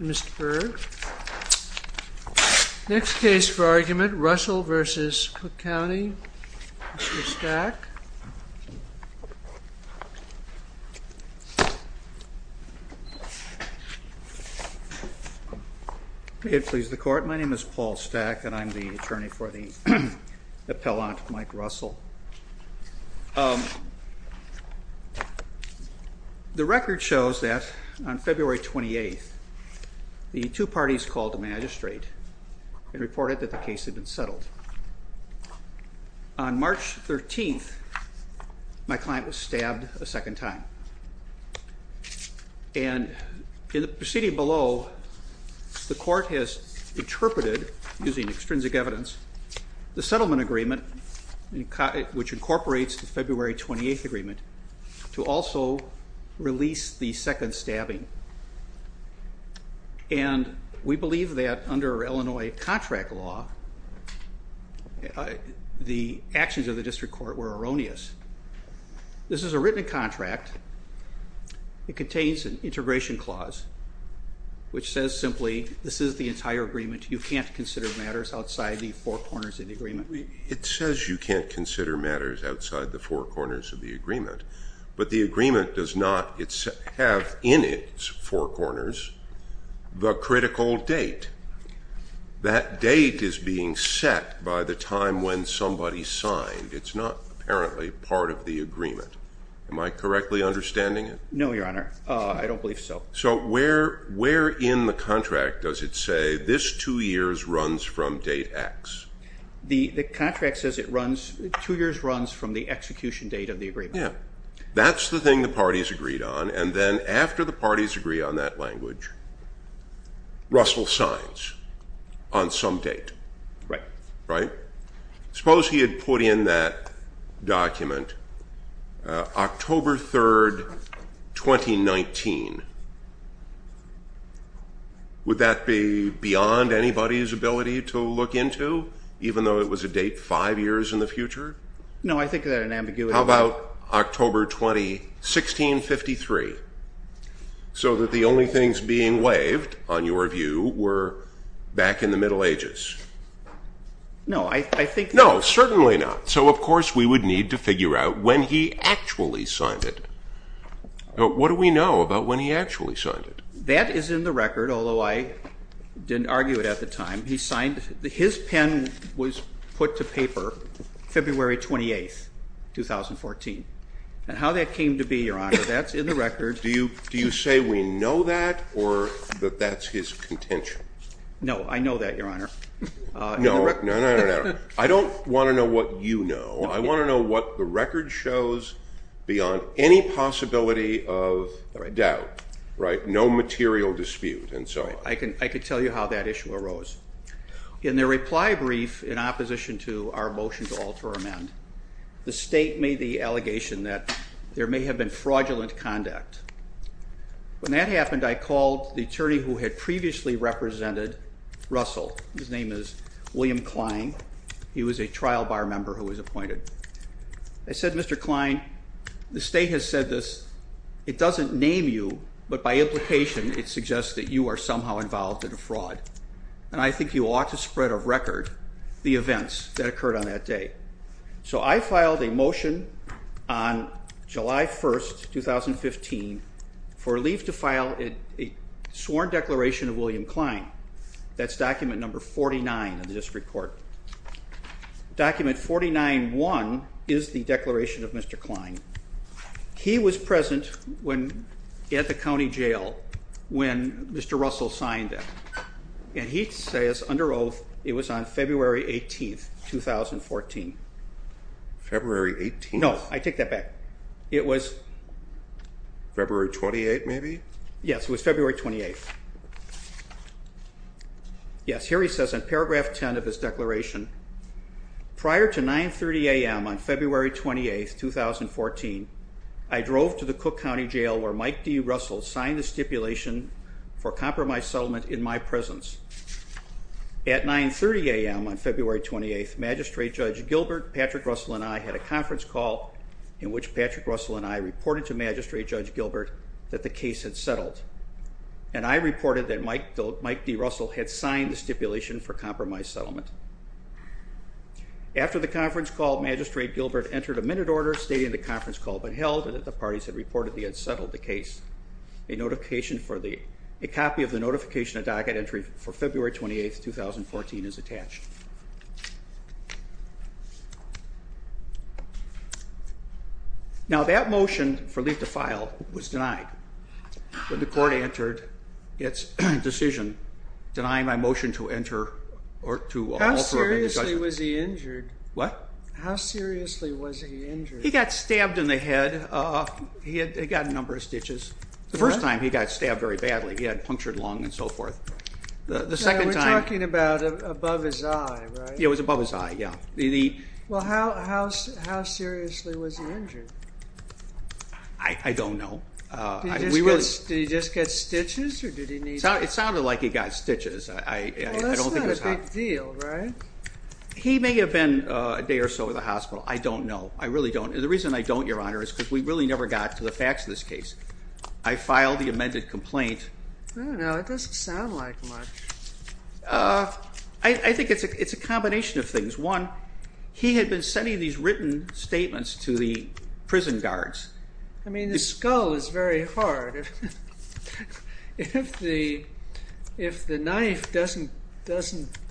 Mr. Berg. Next case for argument, Russell v. Cook County. Mr. Stack. May it please the court. My name is Paul Stack and I'm the attorney for the appellant, Mike Russell. The record shows that on February 28th, the two parties called the magistrate and reported that the case had been settled. On March 13th, my client was stabbed a second time. And in the proceeding below, the court has interpreted, using extrinsic evidence, the settlement agreement in which incorporates the February 28th agreement, to also release the second stabbing. And we believe that under Illinois contract law, the actions of the district court were erroneous. This is a written contract. It contains an integration clause, which says simply, this is the entire agreement. You can't consider matters outside the four corners of the agreement. It says you can't consider matters outside the four corners of the agreement. But the agreement does not have in its four corners the critical date. That date is being set by the time when somebody signed. It's not apparently part of the agreement. Am I correctly understanding it? No, your honor. I don't believe so. So where in the contract does it say this two years runs from date X? The contract says it runs, two years runs from the execution date of the agreement. That's the thing the parties agreed on. And then after the parties agree on that language, Russell signs on some date. Right. Right. Suppose he had put in that document, October 3rd, 2019. Would that be beyond anybody's ability to look into? Even though it was a date five years in the future? No, I think that an ambiguity. How about October 20, 1653? So that the only things being waived, on your view, were back in the Middle Ages? No, I think. No, certainly not. So of course we would need to figure out when he actually signed it. What do we know about when he actually signed it? That is in the record, although I didn't argue it at the time. His pen was put to paper February 28th, 2014. And how that came to be, your honor, that's in the record. Do you say we know that or that that's his contention? No, I know that, your honor. No, no, no. I don't want to know what you know. I want to know what the record shows beyond any possibility of doubt. Right. No material dispute. I can tell you how that issue arose. In their reply brief in opposition to our motion to alter amend, the state made the allegation that there may have been fraudulent conduct. When that happened, I called the attorney who had previously represented Russell. His name is William Klein. He was a trial bar member who was appointed. I said, Mr. Klein, the state has said this. But by implication, it suggests that you are somehow involved in a fraud. And I think you ought to spread of record the events that occurred on that day. So I filed a motion on July 1st, 2015, for leave to file a sworn declaration of William Klein. That's document number 49 in the district court. Document 49-1 is the declaration of Mr. Klein. He was present at the county jail when Mr. Russell signed it. And he says, under oath, it was on February 18th, 2014. February 18th? No, I take that back. It was February 28th, maybe? Yes, it was February 28th. Yes, here he says in paragraph 10 of his declaration, Prior to 9.30 a.m. on February 28th, 2014, I drove to the Cook County Jail where Mike D. Russell signed the stipulation for compromise settlement in my presence. At 9.30 a.m. on February 28th, Magistrate Judge Gilbert, Patrick Russell, and I had a conference call in which Patrick Russell and I reported to Magistrate Judge Gilbert that the case had settled. And I reported that Mike D. Russell had signed the stipulation for compromise settlement. After the conference call, Magistrate Gilbert entered a minute order stating the conference call but held that the parties had reported they had settled the case. A copy of the notification of docket entry for February 28th, 2014 is attached. Now, that motion for leave to file was denied. But the court entered its decision denying my motion to enter or to offer an indictment. How seriously was he injured? What? How seriously was he injured? He got stabbed in the head. He got a number of stitches. The first time he got stabbed very badly. He had a punctured lung and so forth. We're talking about above his eye, right? It was above his eye, yeah. Well, how seriously was he injured? I don't know. Did he just get stitches or did he need... It sounded like he got stitches. Well, that's not a big deal, right? He may have been a day or so at the hospital. I don't know. I really don't. The reason I don't, Your Honor, is because we really never got to the facts of this case. I filed the amended complaint. I don't know. It doesn't sound like much. I think it's a combination of things. One, he had been sending these written statements to the prison guards. I mean, the skull is very hard. If the knife doesn't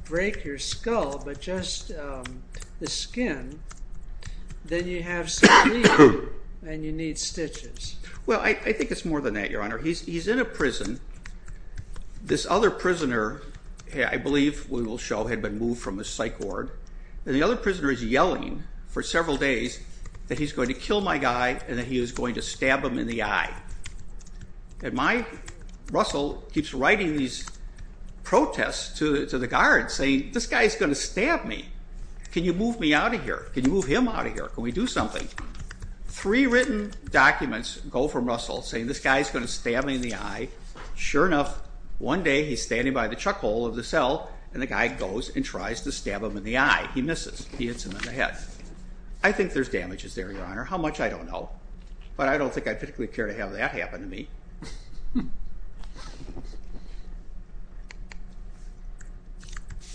break your skull but just the skin, then you have some bleed and you need stitches. Well, I think it's more than that, Your Honor. He's in a prison. This other prisoner, I believe we will show, had been moved from the psych ward. And the other prisoner is yelling for several days that he's going to kill my guy and that he is going to stab him in the eye. And Russell keeps writing these protests to the guards saying, this guy is going to stab me. Can you move me out of here? Can you move him out of here? Can we do something? Three written documents go from Russell saying this guy is going to stab me in the eye. Sure enough, one day he's standing by the chuck hole of the cell, and the guy goes and tries to stab him in the eye. He misses. He hits him in the head. I think there's damages there, Your Honor. How much, I don't know. But I don't think I particularly care to have that happen to me.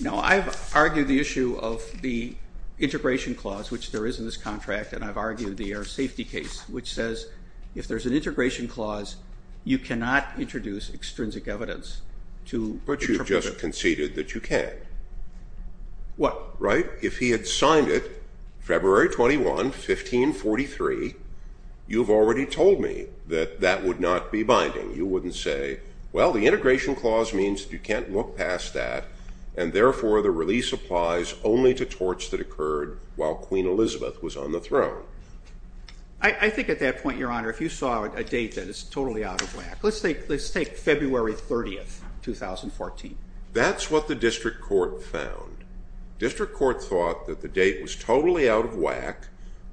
No, I've argued the issue of the integration clause, which there is in this contract, and I've argued the air safety case, which says if there's an integration clause, you cannot introduce extrinsic evidence to interpret it. But you just conceded that you can. What? Right? If he had signed it February 21, 1543, you've already told me that that would not be binding. You wouldn't say, well, the integration clause means that you can't look past that, and therefore the release applies only to torts that occurred while Queen Elizabeth was on the throne. I think at that point, Your Honor, if you saw a date, then it's totally out of whack. Let's take February 30, 2014. That's what the district court found. District court thought that the date was totally out of whack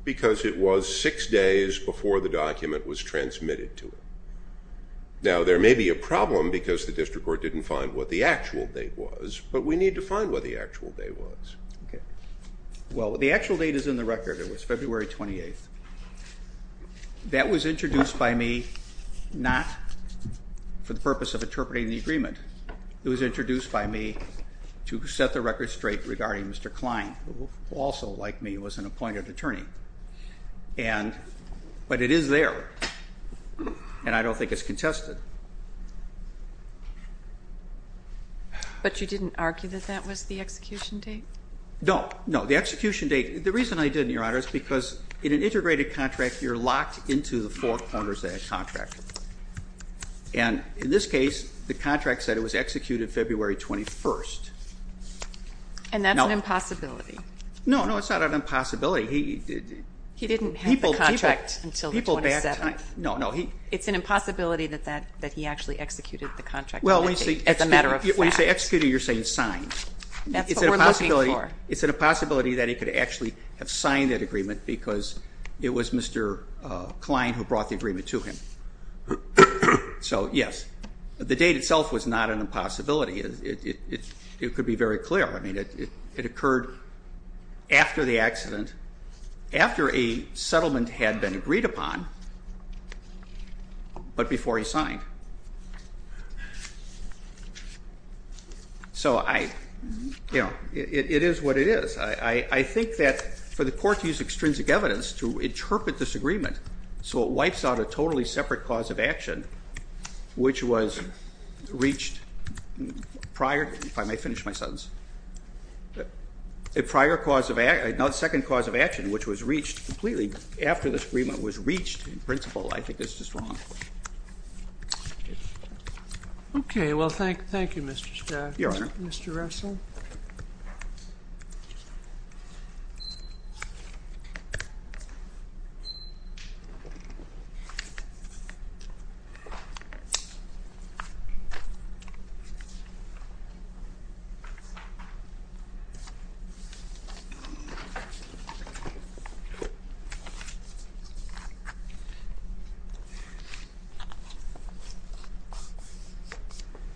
because it was six days before the document was transmitted to it. Now, there may be a problem because the district court didn't find what the actual date was, but we need to find what the actual date was. Well, the actual date is in the record. It was February 28. It was introduced by me to set the record straight regarding Mr. Klein, who also, like me, was an appointed attorney. But it is there, and I don't think it's contested. But you didn't argue that that was the execution date? No. No, the execution date. The reason I didn't, Your Honor, is because in an integrated contract, you're locked into the four corners of that contract. And in this case, the contract said it was executed February 21. And that's an impossibility. No, no, it's not an impossibility. He didn't have the contract until the 27th. No, no. It's an impossibility that he actually executed the contract. Well, when you say executed, you're saying signed. That's what we're looking for. It's a possibility that he could actually have signed that agreement because it was Mr. Klein who brought the agreement to him. So, yes, the date itself was not an impossibility. It could be very clear. It occurred after the accident, after a settlement had been agreed upon, but before he signed. So it is what it is. I think that for the court to use extrinsic evidence to interpret this agreement so it wipes out a totally separate cause of action, which was reached prior, if I may finish my sentence, a prior cause of action, not a second cause of action, which was reached completely after this agreement was reached in principle, I think is just wrong. Well, thank you, Mr. Stack. Your Honor. Thank you, Mr. Russell. Thank you.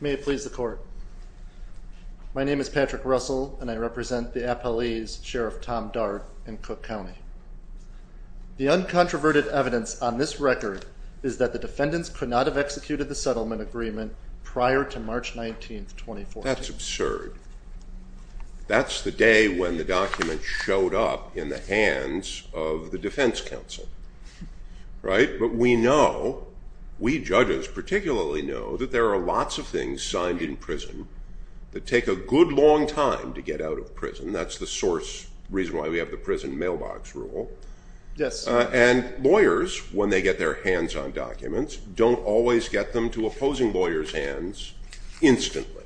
May it please the court. My name is Patrick Russell, and I represent the appellees Sheriff Tom Dart in Cook County. The uncontroverted evidence on this record is that the defendants could not have executed the settlement agreement prior to March 19th, 2014. That's absurd. That's the day when the document showed up in the hands of the defense counsel. Right? But we know, we judges particularly know, that there are lots of things signed in prison that take a good long time to get out of prison. That's the source, reason why we have the prison mailbox rule. Yes. And lawyers, when they get their hands on documents, don't always get them to opposing lawyers' hands instantly.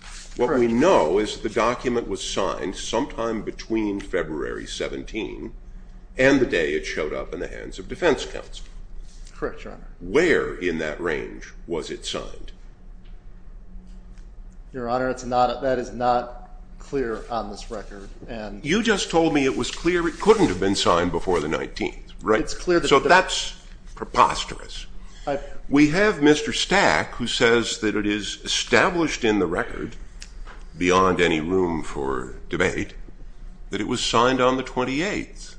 Correct. What we know is the document was signed sometime between February 17 Correct, Your Honor. Where in that range was it signed? Your Honor, that is not clear on this record. You just told me it was clear it couldn't have been signed before the 19th. Right? So that's preposterous. We have Mr. Stack, who says that it is established in the record, beyond any room for debate, that it was signed on the 28th.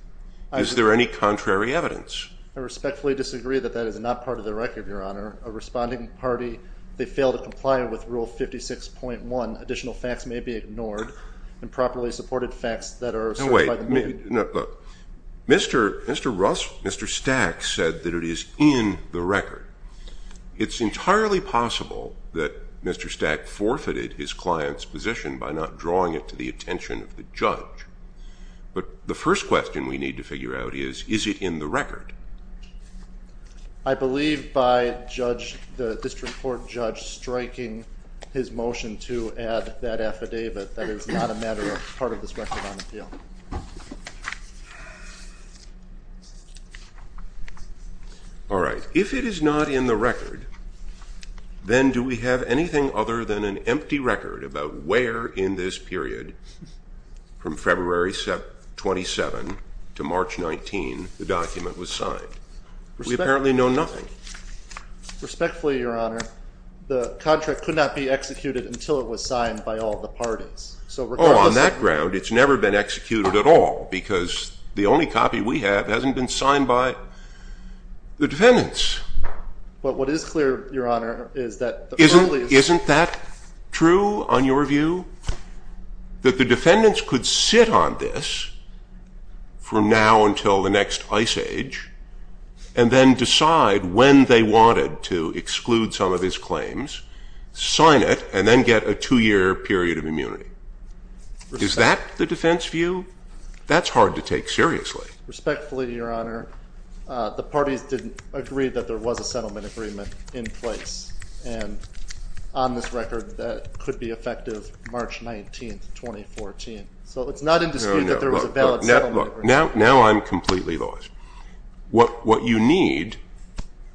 Is there any contrary evidence? I respectfully disagree that that is not part of the record, Your Honor. A responding party, if they fail to comply with Rule 56.1, additional facts may be ignored, and properly supported facts that are asserted by the movement. No, wait. Look. Mr. Stack said that it is in the record. It's entirely possible that Mr. Stack forfeited his client's position by not drawing it to the attention of the judge. But the first question we need to figure out is, is it in the record? I believe by the district court judge striking his motion to add that affidavit that it's not a part of this record on appeal. All right. If it is not in the record, then do we have anything other than an empty record about where in this period, from February 27 to March 19, the document was signed? We apparently know nothing. Respectfully, Your Honor, the contract could not be executed until it was signed by all the parties. Oh, on that ground, it's never been executed at all, because the only copy we have hasn't been signed by the defendants. But what is clear, Your Honor, is that the early... Isn't that true on your view? That the defendants could sit on this from now until the next ice age and then decide when they wanted to exclude some of his claims, sign it, and then get a two-year period of immunity. Is that the defense view? That's hard to take seriously. Respectfully, Your Honor, the parties didn't agree that there was a settlement agreement in place. And on this record, that could be effective March 19, 2014. So it's not indisputable that there was a valid settlement agreement. Now I'm completely lost. What you need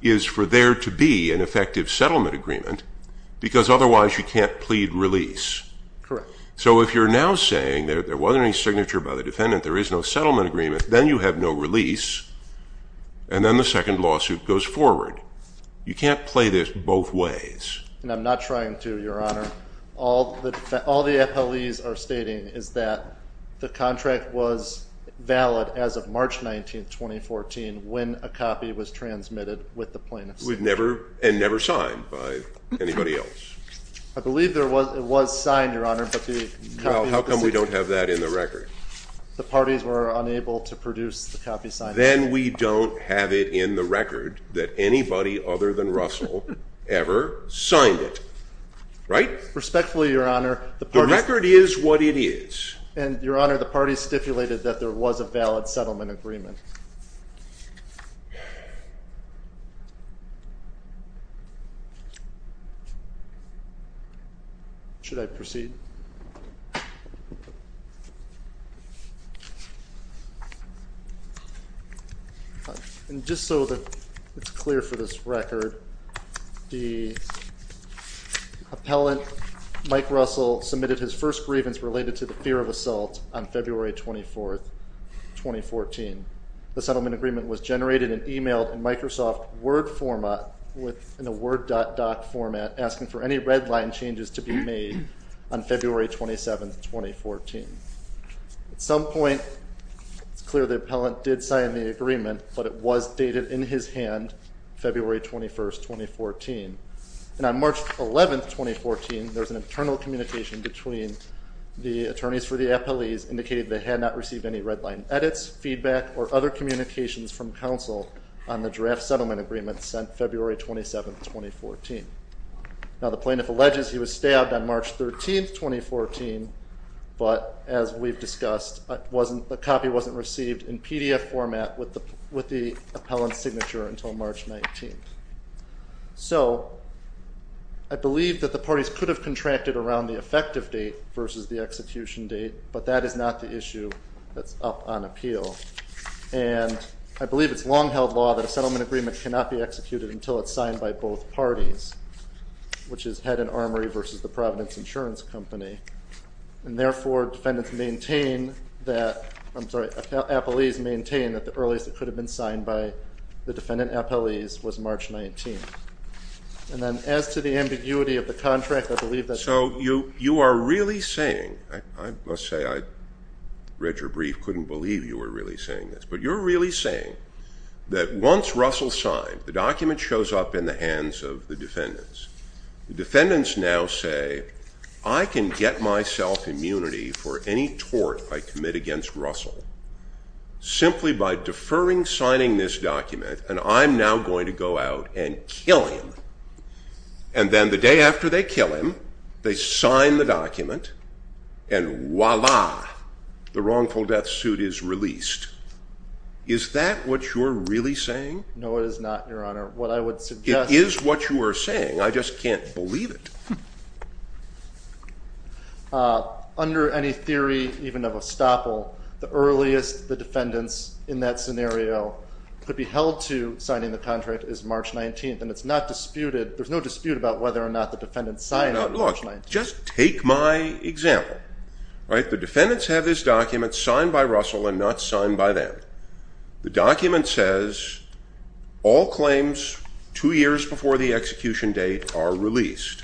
is for there to be an effective settlement agreement, because otherwise you can't plead release. Correct. So if you're now saying there wasn't any signature by the defendant, there is no settlement agreement, then you have no release, and then the second lawsuit goes forward. You can't play this both ways. And I'm not trying to, Your Honor. All the FLEs are stating is that the contract was valid as of March 19, 2014, when a copy was transmitted with the plaintiffs. And never signed by anybody else. I believe it was signed, Your Honor, but the copy... Well, how come we don't have that in the record? The parties were unable to produce the copy signed. Then we don't have it in the record that anybody other than Russell ever signed it. Right? Respectfully, Your Honor, the parties... The record is what it is. And, Your Honor, the parties stipulated that there was a valid settlement agreement. Should I proceed? And just so that it's clear for this record, the appellant, Mike Russell, submitted his first grievance related to the fear of assault on February 24, 2014. The settlement agreement was generated and emailed in Microsoft Word format, in a Word doc format, asking for any red line changes to be made on February 27, 2014. At some point, it's clear the appellant did sign the agreement, but it was dated in his hand, February 21, 2014. And on March 11, 2014, there's an internal communication between the attorneys for the appellees indicating they had not received any red line edits, feedback, or other communications from counsel on the draft settlement agreement sent February 27, 2014. Now, the plaintiff alleges he was stabbed on March 13, 2014, but, as we've discussed, the copy wasn't received in PDF format with the appellant's signature until March 19. So, I believe that the parties could have contracted around the effective date versus the execution date, but that is not the issue that's up on appeal. And I believe it's long-held law that a settlement agreement cannot be executed until it's signed by both parties, which is head and armory versus the Providence Insurance Company. And, therefore, defendants maintain that, I'm sorry, appellees maintain that the earliest it could have been signed by the defendant appellees was March 19. And then, as to the ambiguity of the contract, I believe that's... So, you are really saying, I must say, I read your brief, couldn't believe you were really saying this, but you're really saying that once Russell signed, the document shows up in the hands of the defendants. The defendants now say, I can get myself immunity for any tort I commit against Russell simply by deferring signing this document, and I'm now going to go out and kill him. And then, the day after they kill him, they sign the document, and voila, the wrongful death suit is released. Is that what you're really saying? No, it is not, Your Honor. What I would suggest... It is what you are saying. I just can't believe it. Under any theory, even of estoppel, the earliest the defendants, in that scenario, could be held to signing the contract is March 19, and it's not disputed. There's no dispute about whether or not the defendants signed it on March 19. Look, just take my example. The defendants have this document signed by Russell and not signed by them. The document says, all claims two years before the execution date are released.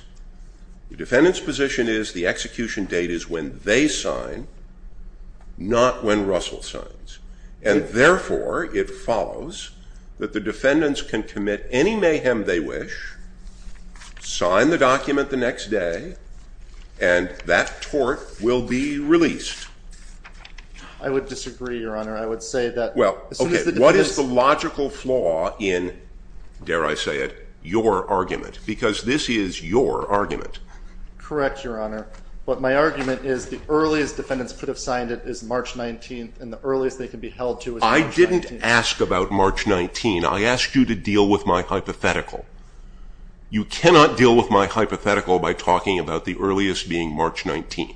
The defendant's position is the execution date is when they sign, not when Russell signs. And therefore, it follows that the defendants can commit any mayhem they wish, sign the document the next day, and that tort will be released. I would disagree, Your Honor. I would say that... Well, okay, what is the logical flaw in, dare I say it, your argument? Because this is your argument. Correct, Your Honor. But my argument is the earliest defendants could have signed it is March 19, and the earliest they could be held to is March 19. I didn't ask about March 19. I asked you to deal with my hypothetical. You cannot deal with my hypothetical by talking about the earliest being March 19.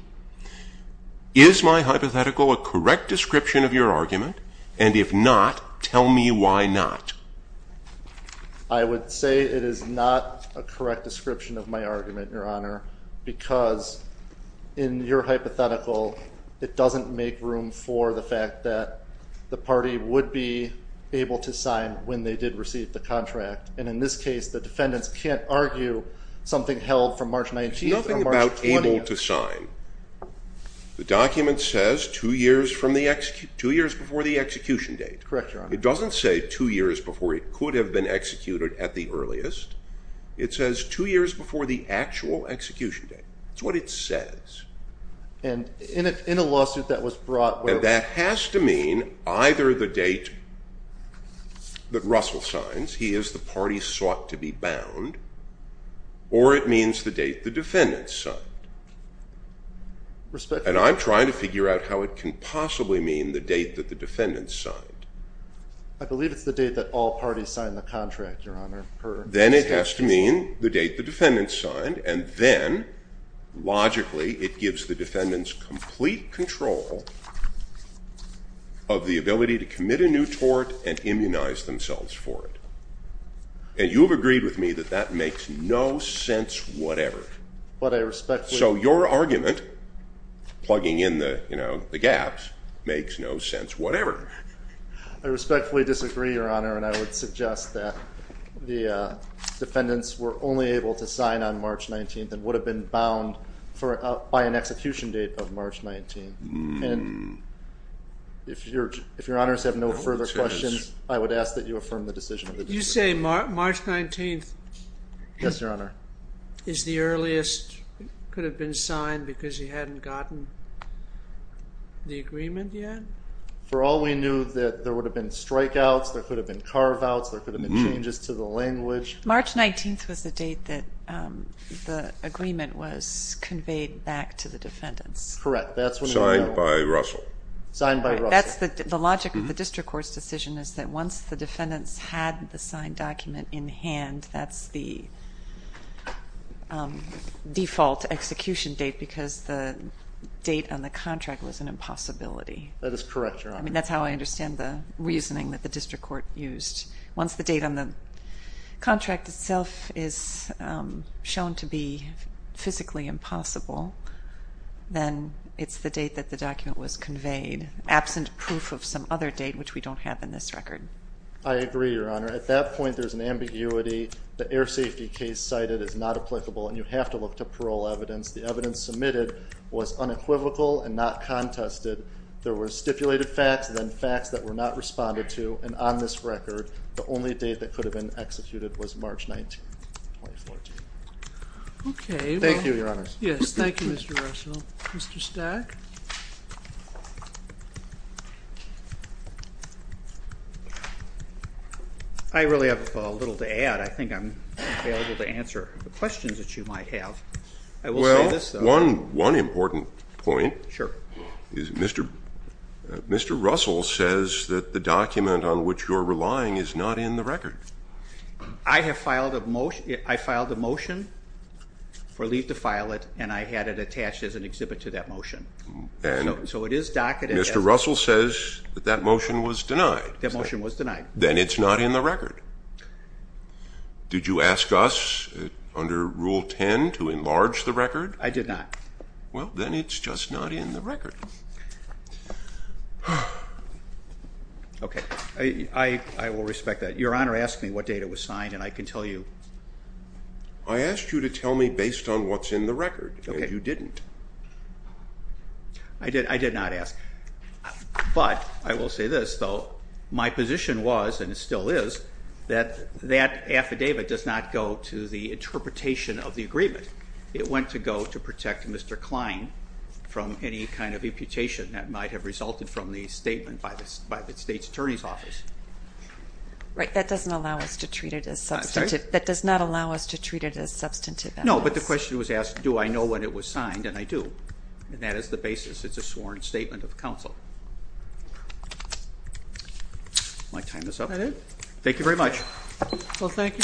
Is my hypothetical a correct description of your argument? And if not, tell me why not. I would say it is not a correct description of my argument, Your Honor, because in your hypothetical, it doesn't make room for the fact that the party would be able to sign when they did receive the contract. And in this case, the defendants can't argue something held from March 19 or March 20. There's nothing about able to sign. The document says two years before the execution date. Correct, Your Honor. It doesn't say two years before it could have been executed at the earliest. It says two years before the actual execution date. That's what it says. And in a lawsuit that was brought... And that has to mean either the date that Russell signs, he is the party sought to be bound, or it means the date the defendants signed. And I'm trying to figure out how it can possibly mean the date that the defendants signed. I believe it's the date that all parties signed the contract, Your Honor. Then it has to mean the date the defendants signed, and then, logically, it gives the defendants complete control of the ability to commit a new tort and immunize themselves for it. And you have agreed with me that that makes no sense whatever. But I respectfully... So your argument, plugging in the gaps, makes no sense whatever. I respectfully disagree, Your Honor, and I would suggest that the defendants were only able to sign on March 19th and would have been bound by an execution date of March 19th. And if Your Honors have no further questions, I would ask that you affirm the decision. You say March 19th... Yes, Your Honor. ...is the earliest, could have been signed because you hadn't gotten the agreement yet? For all we knew that there would have been strikeouts, there could have been carve-outs, there could have been changes to the language. March 19th was the date that the agreement was conveyed back to the defendants. Correct. Signed by Russell. Signed by Russell. That's the logic of the district court's decision is that once the defendants had the signed document in hand, that's the default execution date because the date on the contract was an impossibility. That is correct, Your Honor. I mean, that's how I understand the reasoning that the district court used. Once the date on the contract itself is shown to be physically impossible, then it's the date that the document was conveyed, absent proof of some other date which we don't have in this record. I agree, Your Honor. At that point, there's an ambiguity. The air safety case cited is not applicable, and you have to look to parole evidence. The evidence submitted was unequivocal and not contested. There were stipulated facts and then facts that were not responded to, and on this record, the only date that could have been executed was March 19th, 2014. Thank you, Your Honors. Yes. Thank you, Mr. Russell. Mr. Stack? I really have little to add. I think I'm able to answer the questions that you might have. I will say this, though. One important point is Mr. Russell says that the document on which you're relying is not in the record. I have filed a motion for leave to file it, and I had it attached as an exhibit to that motion. So it is docketed. Mr. Russell says that that motion was denied. That motion was denied. Then it's not in the record. Did you ask us under Rule 10 to enlarge the record? I did not. Well, then it's just not in the record. Okay. I will respect that. Your Honor asked me what date it was signed, and I can tell you. I asked you to tell me based on what's in the record, and you didn't. I did not ask. But I will say this, though. My position was, and it still is, that that affidavit does not go to the interpretation of the agreement. It went to go to protect Mr. Klein from any kind of imputation that might have resulted from the statement by the State's Attorney's Office. Right. That doesn't allow us to treat it as substantive. I'm sorry? That does not allow us to treat it as substantive evidence. No, but the question was asked, do I know when it was signed, and I do. And that is the basis. It's a sworn statement of counsel. My time is up. Is that it? Thank you very much. Well, thank you very much, Mr. Nelson.